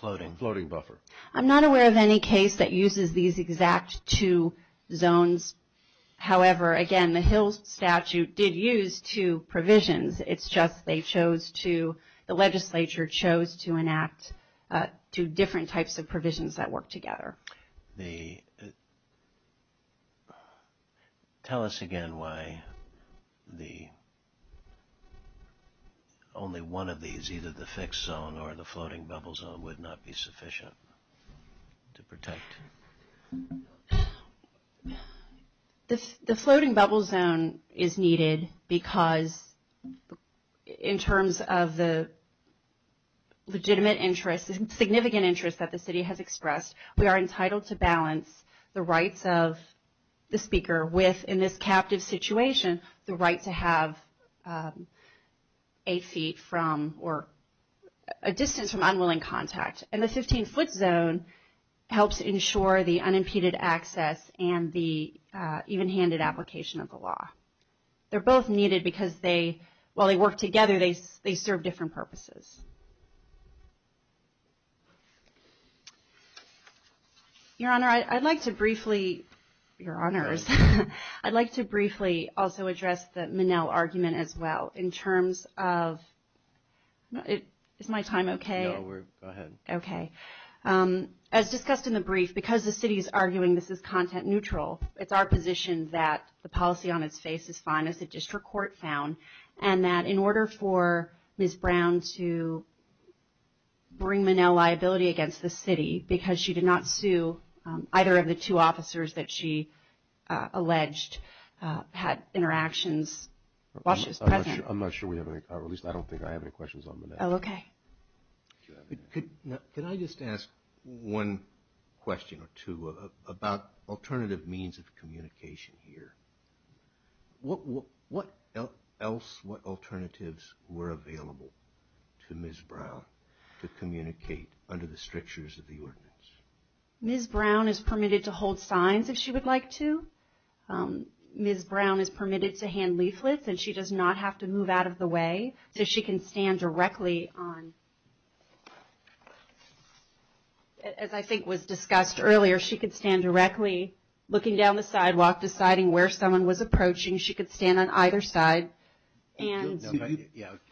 floating buffer? I'm not aware of any case that uses these exact two zones. However, again, the Hill Statute did use two provisions. It's just they chose to, the legislature chose to enact two different types of provisions that work together. Tell us again why only one of these, either the fixed zone or the floating bubble zone, would not be sufficient to protect. The floating bubble zone is needed because in terms of the legitimate interest, the significant interest that the city has expressed, we are entitled to balance the rights of the speaker with, in this captive situation, the right to have eight feet from or a distance from unwilling contact. And the 15-foot zone helps ensure the unimpeded access and the even-handed application of the law. They're both needed because they, while they work together, they serve different purposes. Your Honor, I'd like to briefly, Your Honors, I'd like to briefly also address the Minnell argument as well in terms of, is my time okay? No, go ahead. Okay. As discussed in the brief, because the city is arguing this is content neutral, it's our position that the policy on its face is fine, as the district court found, and that in order for Ms. Brown to bring Minnell liability against the city, because she did not sue either of the two officers that she alleged had interactions while she was president. I'm not sure we have any, or at least I don't think I have any questions on Minnell. Okay. Could I just ask one question or two about alternative means of communication here? What else, what alternatives were available to Ms. Brown to communicate under the strictures of the ordinance? Ms. Brown is permitted to hold signs if she would like to. Ms. Brown is permitted to hand leaflets, and she does not have to move out of the way, so she can stand directly on, as I think was discussed earlier, she could stand directly looking down the sidewalk deciding where someone was approaching. She could stand on either side and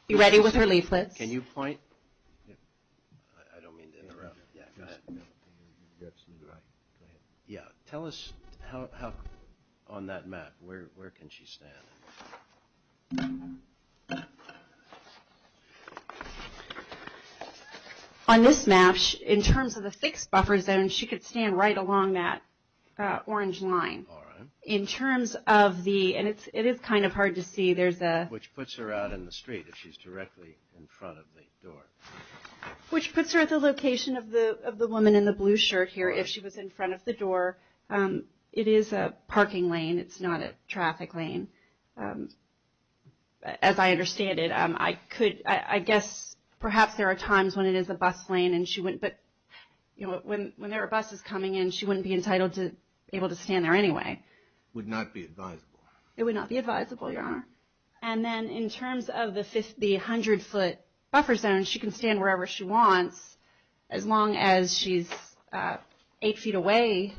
be ready with her leaflets. Can you point? I don't mean to interrupt. Go ahead. Yeah. Tell us how, on that map, where can she stand? On this map, in terms of the fixed buffer zone, she could stand right along that orange line. All right. In terms of the, and it is kind of hard to see, there's a Which puts her out in the street if she's directly in front of the door. Which puts her at the location of the woman in the blue shirt here if she was in front of the door. It is a parking lane. It's not a traffic lane, as I understand it. I guess perhaps there are times when it is a bus lane, but when there are buses coming in, she wouldn't be entitled to be able to stand there anyway. Would not be advisable. It would not be advisable, Your Honor. And then in terms of the 100-foot buffer zone, she can stand wherever she wants as long as she's eight feet away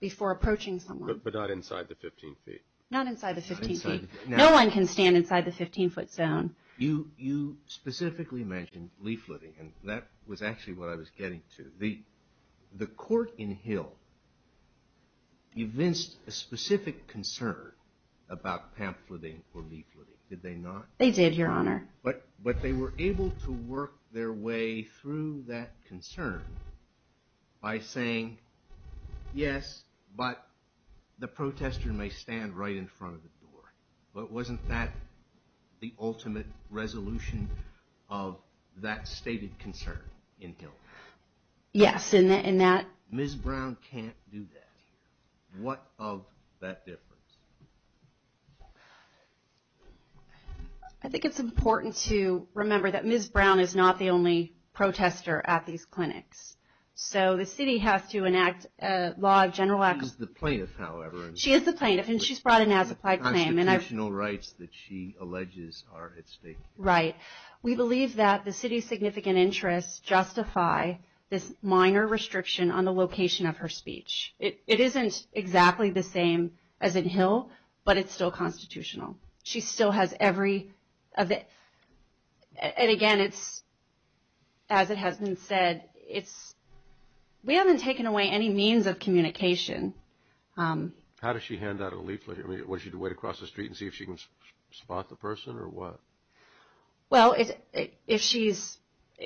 before approaching someone. But not inside the 15 feet. Not inside the 15 feet. No one can stand inside the 15-foot zone. You specifically mentioned leafleting, and that was actually what I was getting to. The court in Hill evinced a specific concern about pamphleting or leafleting, did they not? They did, Your Honor. But they were able to work their way through that concern by saying, yes, but the protester may stand right in front of the door. But wasn't that the ultimate resolution of that stated concern in Hill? Yes. Ms. Brown can't do that. What of that difference? I think it's important to remember that Ms. Brown is not the only protester at these clinics. So the city has to enact a law of general action. She's the plaintiff, however. She is the plaintiff, and she's brought in as a plaintiff. The constitutional rights that she alleges are at stake. Right. We believe that the city's significant interests justify this minor restriction on the location of her speech. It isn't exactly the same as in Hill, but it's still constitutional. She still has every – and, again, it's – as it has been said, it's – we haven't taken away any means of communication. How does she hand out a leaflet? I mean, what, does she have to wait across the street and see if she can spot the person, or what? Well, if she's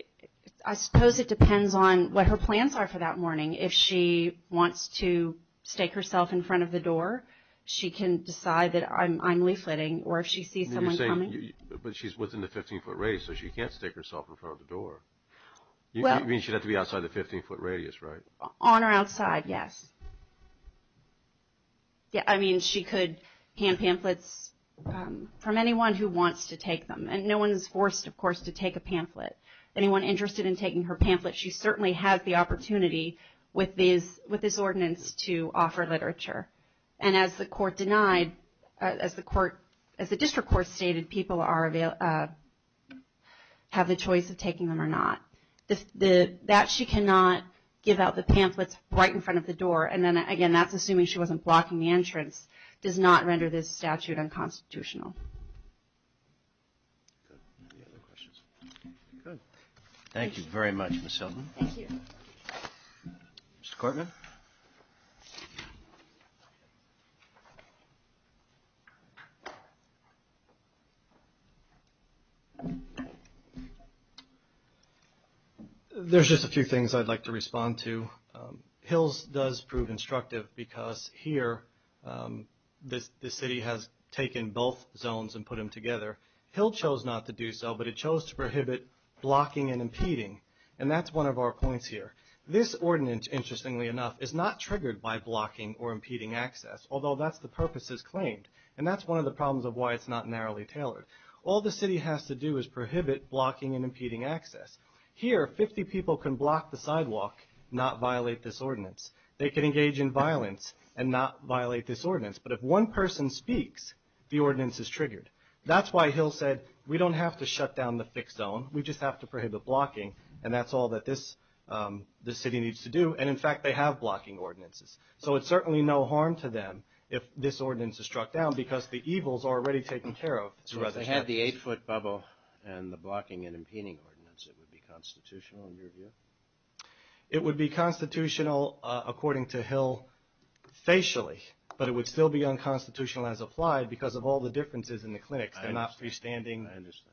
– I suppose it depends on what her plans are for that morning. If she wants to stake herself in front of the door, she can decide that I'm leafletting, or if she sees someone coming. But you're saying – but she's within the 15-foot radius, so she can't stake herself in front of the door. Well – I mean, she'd have to be outside the 15-foot radius, right? On or outside, yes. I mean, she could hand pamphlets from anyone who wants to take them. And no one is forced, of course, to take a pamphlet. Anyone interested in taking her pamphlet, she certainly has the opportunity with this ordinance to offer literature. And as the court denied – as the court – as the district court stated, people are – have the choice of taking them or not. That she cannot give out the pamphlets right in front of the door, and then, again, that's assuming she wasn't blocking the entrance, does not render this statute unconstitutional. Any other questions? Good. Thank you very much, Ms. Selvin. Thank you. Mr. Cortman? There's just a few things I'd like to respond to. Hills does prove instructive because here the city has taken both zones and put them together. Hill chose not to do so, but it chose to prohibit blocking and impeding. And that's one of our points here. This ordinance, interestingly enough, is not triggered by blocking or impeding access, although that's the purpose as claimed. And that's one of the problems of why it's not narrowly tailored. All the city has to do is prohibit blocking and impeding access. Here, 50 people can block the sidewalk, not violate this ordinance. They can engage in violence and not violate this ordinance. But if one person speaks, the ordinance is triggered. That's why Hill said, we don't have to shut down the fixed zone, we just have to prohibit blocking, and that's all that this city needs to do. And, in fact, they have blocking ordinances. So it's certainly no harm to them if this ordinance is struck down because the evil is already taken care of. So if they had the 8-foot bubble and the blocking and impeding ordinance, it would be constitutional in your view? It would be constitutional, according to Hill, facially, but it would still be unconstitutional as applied because of all the differences in the clinics. They're not freestanding,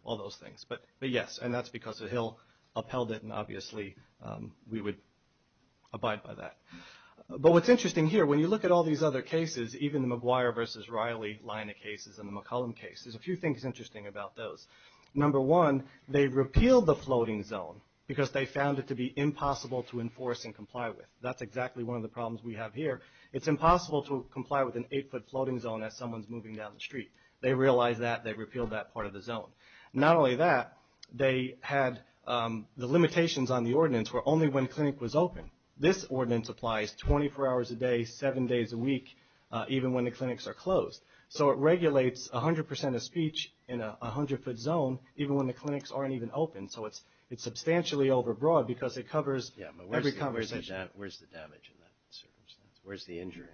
all those things. But, yes, and that's because Hill upheld it, and obviously we would abide by that. But what's interesting here, when you look at all these other cases, even the McGuire v. Riley line of cases and the McCollum case, there's a few things interesting about those. Number one, they repealed the floating zone because they found it to be impossible to enforce and comply with. That's exactly one of the problems we have here. It's impossible to comply with an 8-foot floating zone as someone's moving down the street. They realized that, they repealed that part of the zone. Not only that, they had the limitations on the ordinance were only when clinic was open. This ordinance applies 24 hours a day, seven days a week, even when the clinics are closed. So it regulates 100% of speech in a 100-foot zone, even when the clinics aren't even open. So it's substantially overbroad because it covers every conversation. Yeah, but where's the damage in that circumstance? Where's the injury?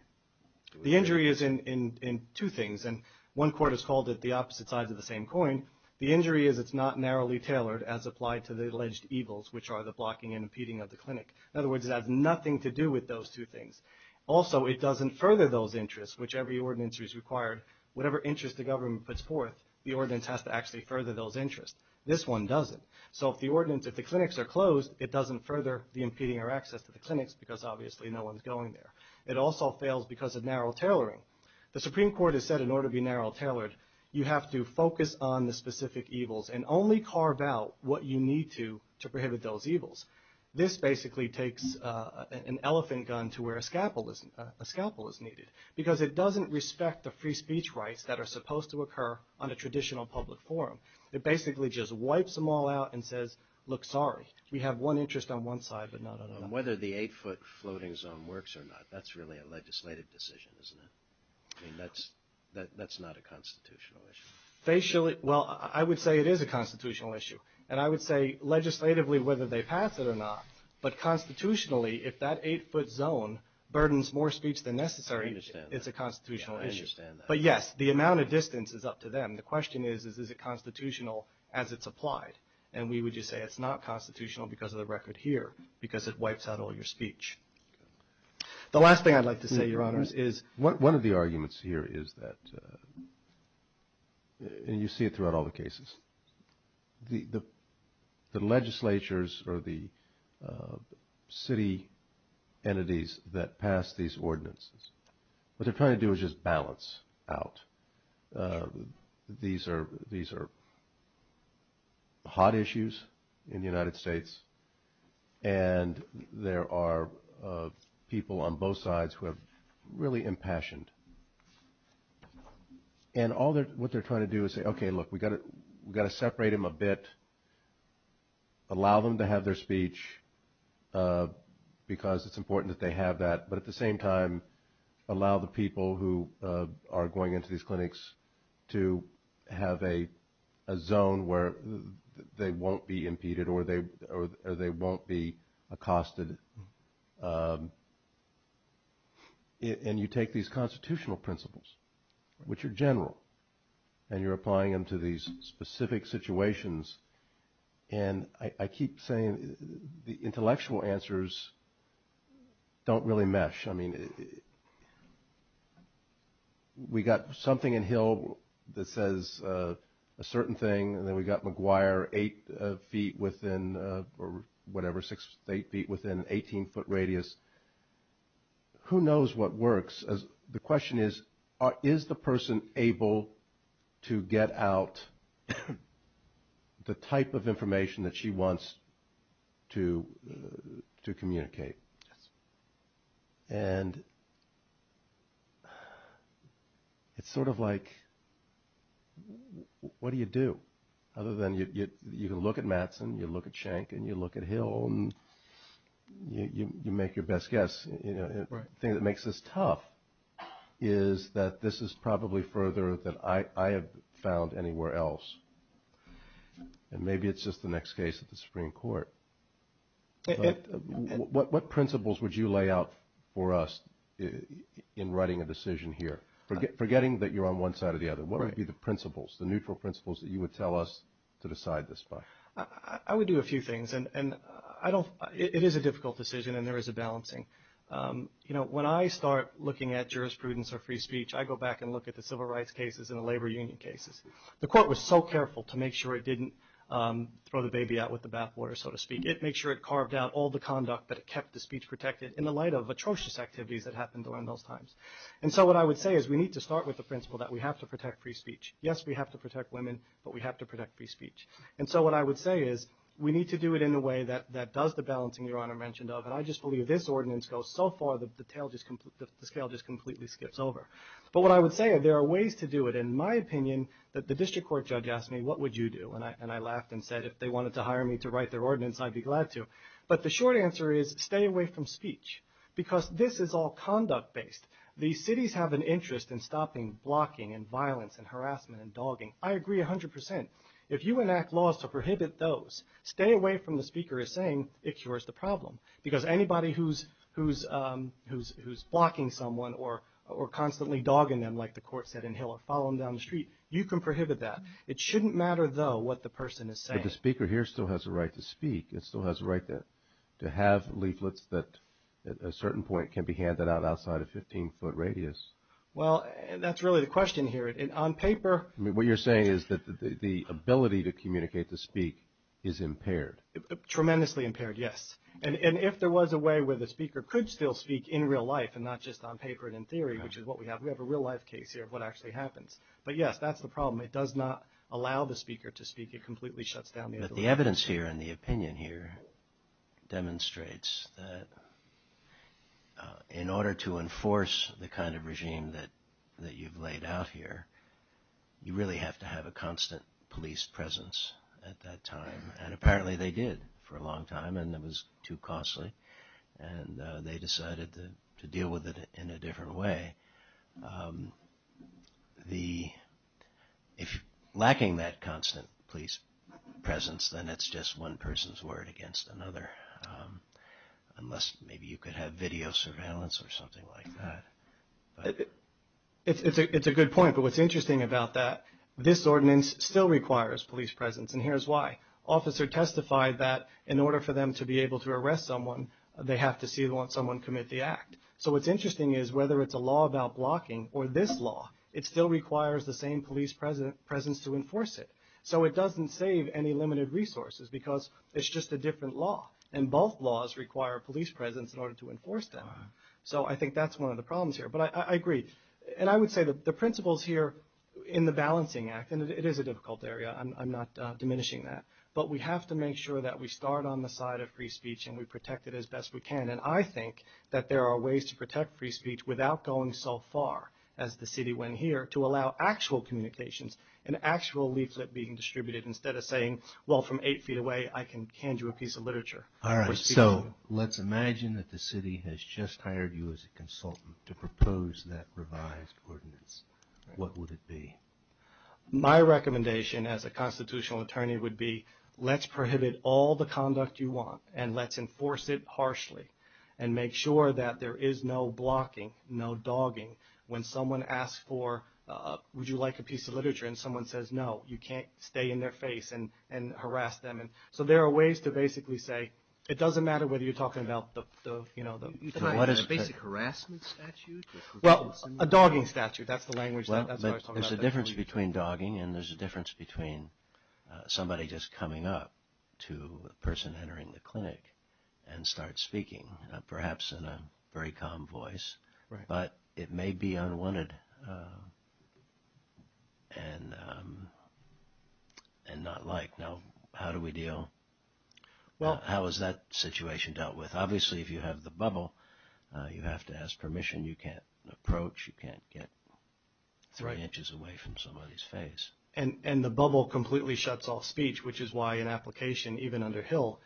The injury is in two things, and one court has called it the opposite sides of the same coin. The injury is it's not narrowly tailored as applied to the alleged evils, which are the blocking and impeding of the clinic. In other words, it has nothing to do with those two things. Also, it doesn't further those interests, which every ordinance is required. Whatever interest the government puts forth, the ordinance has to actually further those interests. This one doesn't. So if the ordinance, if the clinics are closed, it doesn't further the impeding our access to the clinics because obviously no one's going there. It also fails because of narrow tailoring. The Supreme Court has said in order to be narrow tailored, you have to focus on the specific evils and only carve out what you need to to prohibit those evils. This basically takes an elephant gun to where a scalpel is needed because it doesn't respect the free speech rights that are supposed to occur on a traditional public forum. It basically just wipes them all out and says, look, sorry, we have one interest on one side, but not on another. Whether the eight-foot floating zone works or not, that's really a legislative decision, isn't it? I mean, that's not a constitutional issue. Well, I would say it is a constitutional issue, and I would say legislatively whether they pass it or not, but constitutionally if that eight-foot zone burdens more speech than necessary, it's a constitutional issue. But yes, the amount of distance is up to them. The question is, is it constitutional as it's applied? And we would just say it's not constitutional because of the record here because it wipes out all your speech. The last thing I'd like to say, Your Honors, is... One of the arguments here is that, and you see it throughout all the cases, the legislatures or the city entities that pass these ordinances, what they're trying to do is just balance out. These are hot issues in the United States, and there are people on both sides who are really impassioned. And what they're trying to do is say, okay, look, we've got to separate them a bit, allow them to have their speech because it's important that they have that, but at the same time allow the people who are going into these clinics to have a zone where they won't be impeded or they won't be accosted. And you take these constitutional principles, which are general, and you're applying them to these specific situations. And I keep saying the intellectual answers don't really mesh. I mean, we've got something in Hill that says a certain thing, and then we've got McGuire eight feet within, or whatever, six, eight feet within an 18-foot radius. Who knows what works? The question is, is the person able to get out the type of information that she wants to communicate? And it's sort of like, what do you do? Other than you look at Mattson, you look at Schenck, and you look at Hill, and you make your best guess. The thing that makes this tough is that this is probably further than I have found anywhere else. And maybe it's just the next case at the Supreme Court. What principles would you lay out for us in writing a decision here? Forgetting that you're on one side or the other, what would be the principles, the neutral principles that you would tell us to decide this by? I would do a few things, and it is a difficult decision, and there is a balancing. You know, when I start looking at jurisprudence or free speech, I go back and look at the civil rights cases and the labor union cases. The court was so careful to make sure it didn't throw the baby out with the bathwater, so to speak. It made sure it carved out all the conduct, but it kept the speech protected in the light of atrocious activities that happened during those times. And so what I would say is we need to start with the principle that we have to protect free speech. Yes, we have to protect women, but we have to protect free speech. And so what I would say is we need to do it in a way that does the balancing Your Honor mentioned of, and I just believe this ordinance goes so far, the scale just completely skips over. But what I would say, there are ways to do it. In my opinion, the district court judge asked me, what would you do? And I laughed and said if they wanted to hire me to write their ordinance, I'd be glad to. But the short answer is stay away from speech, because this is all conduct based. These cities have an interest in stopping blocking and violence and harassment and dogging. I agree 100%. If you enact laws to prohibit those, stay away from the speaker as saying it cures the problem. Because anybody who's blocking someone or constantly dogging them, like the court said in Hill, or following them down the street, you can prohibit that. It shouldn't matter, though, what the person is saying. But the speaker here still has a right to speak. It still has a right to have leaflets that at a certain point can be handed out outside a 15-foot radius. Well, that's really the question here. On paper. What you're saying is that the ability to communicate, to speak, is impaired. Tremendously impaired, yes. And if there was a way where the speaker could still speak in real life and not just on paper and in theory, which is what we have, we have a real-life case here of what actually happens. But, yes, that's the problem. It does not allow the speaker to speak. It completely shuts down the ability to speak. But the evidence here and the opinion here demonstrates that in order to enforce the kind of regime that you've laid out here, you really have to have a constant police presence at that time. And apparently they did for a long time, and it was too costly. And they decided to deal with it in a different way. If you're lacking that constant police presence, then it's just one person's word against another. Unless maybe you could have video surveillance or something like that. It's a good point. But what's interesting about that, this ordinance still requires police presence, and here's why. An officer testified that in order for them to be able to arrest someone, they have to see someone commit the act. So what's interesting is whether it's a law about blocking or this law, it still requires the same police presence to enforce it. So it doesn't save any limited resources because it's just a different law. And both laws require police presence in order to enforce them. So I think that's one of the problems here. But I agree. And I would say the principles here in the Balancing Act, and it is a difficult area. I'm not diminishing that. But we have to make sure that we start on the side of free speech and we protect it as best we can. And I think that there are ways to protect free speech without going so far, as the city went here, to allow actual communications and actual leaflet being distributed instead of saying, well, from eight feet away I can hand you a piece of literature. All right. So let's imagine that the city has just hired you as a consultant to propose that revised ordinance. What would it be? My recommendation as a constitutional attorney would be let's prohibit all the conduct you want and let's enforce it harshly and make sure that there is no blocking, no dogging. When someone asks for, would you like a piece of literature, and someone says no, you can't stay in their face and harass them. And so there are ways to basically say it doesn't matter whether you're talking about the, you know. A basic harassment statute? Well, a dogging statute. That's the language. There's a difference between dogging and there's a difference between somebody just coming up to a person entering the clinic and starts speaking, perhaps in a very calm voice. But it may be unwanted and not liked. Now, how do we deal? Well, how is that situation dealt with? Obviously, if you have the bubble, you have to ask permission. You can't approach. You can't get three inches away from somebody's face. And the bubble completely shuts off speech, which is why an application, even under Hill,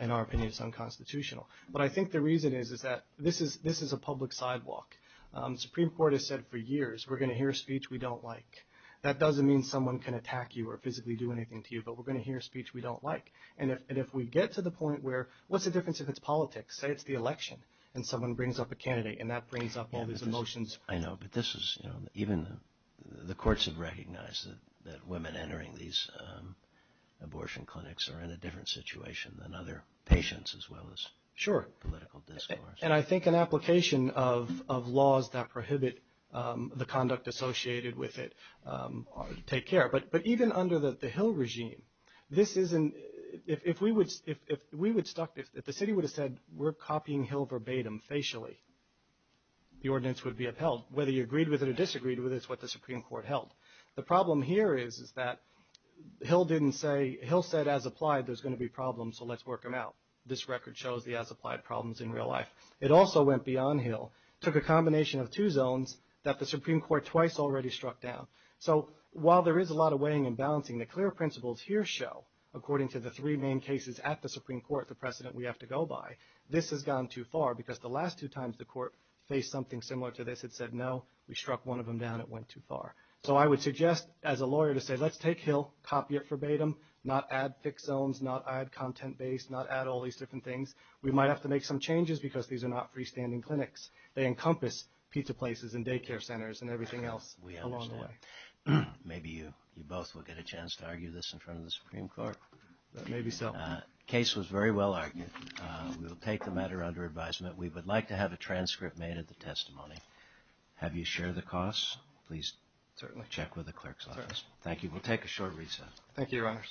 in our opinion, is unconstitutional. But I think the reason is that this is a public sidewalk. The Supreme Court has said for years we're going to hear speech we don't like. That doesn't mean someone can attack you or physically do anything to you, but we're going to hear speech we don't like. And if we get to the point where what's the difference if it's politics? Say it's the election and someone brings up a candidate and that brings up all these emotions. I know. But this is, you know, even the courts have recognized that women entering these abortion clinics are in a different situation than other patients as well as political discourse. Sure. And I think an application of laws that prohibit the conduct associated with it take care. But even under the Hill regime, if the city would have said we're copying Hill verbatim, facially, the ordinance would be upheld. Whether you agreed with it or disagreed with it is what the Supreme Court held. The problem here is that Hill said as applied there's going to be problems, so let's work them out. This record shows the as applied problems in real life. It also went beyond Hill, took a combination of two zones that the Supreme Court twice already struck down. So while there is a lot of weighing and balancing, the clear principles here show, according to the three main cases at the Supreme Court, the precedent we have to go by, this has gone too far because the last two times the court faced something similar to this, it said no, we struck one of them down, it went too far. So I would suggest as a lawyer to say let's take Hill, copy it verbatim, not add fixed zones, not add content-based, not add all these different things. We might have to make some changes because these are not freestanding clinics. They encompass pizza places and daycare centers and everything else along the way. We understand. Maybe you both will get a chance to argue this in front of the Supreme Court. Maybe so. The case was very well argued. We will take the matter under advisement. We would like to have a transcript made of the testimony. Have you shared the costs? Please check with the clerk's office. Certainly. Thank you. We'll take a short recess. Thank you, Your Honors.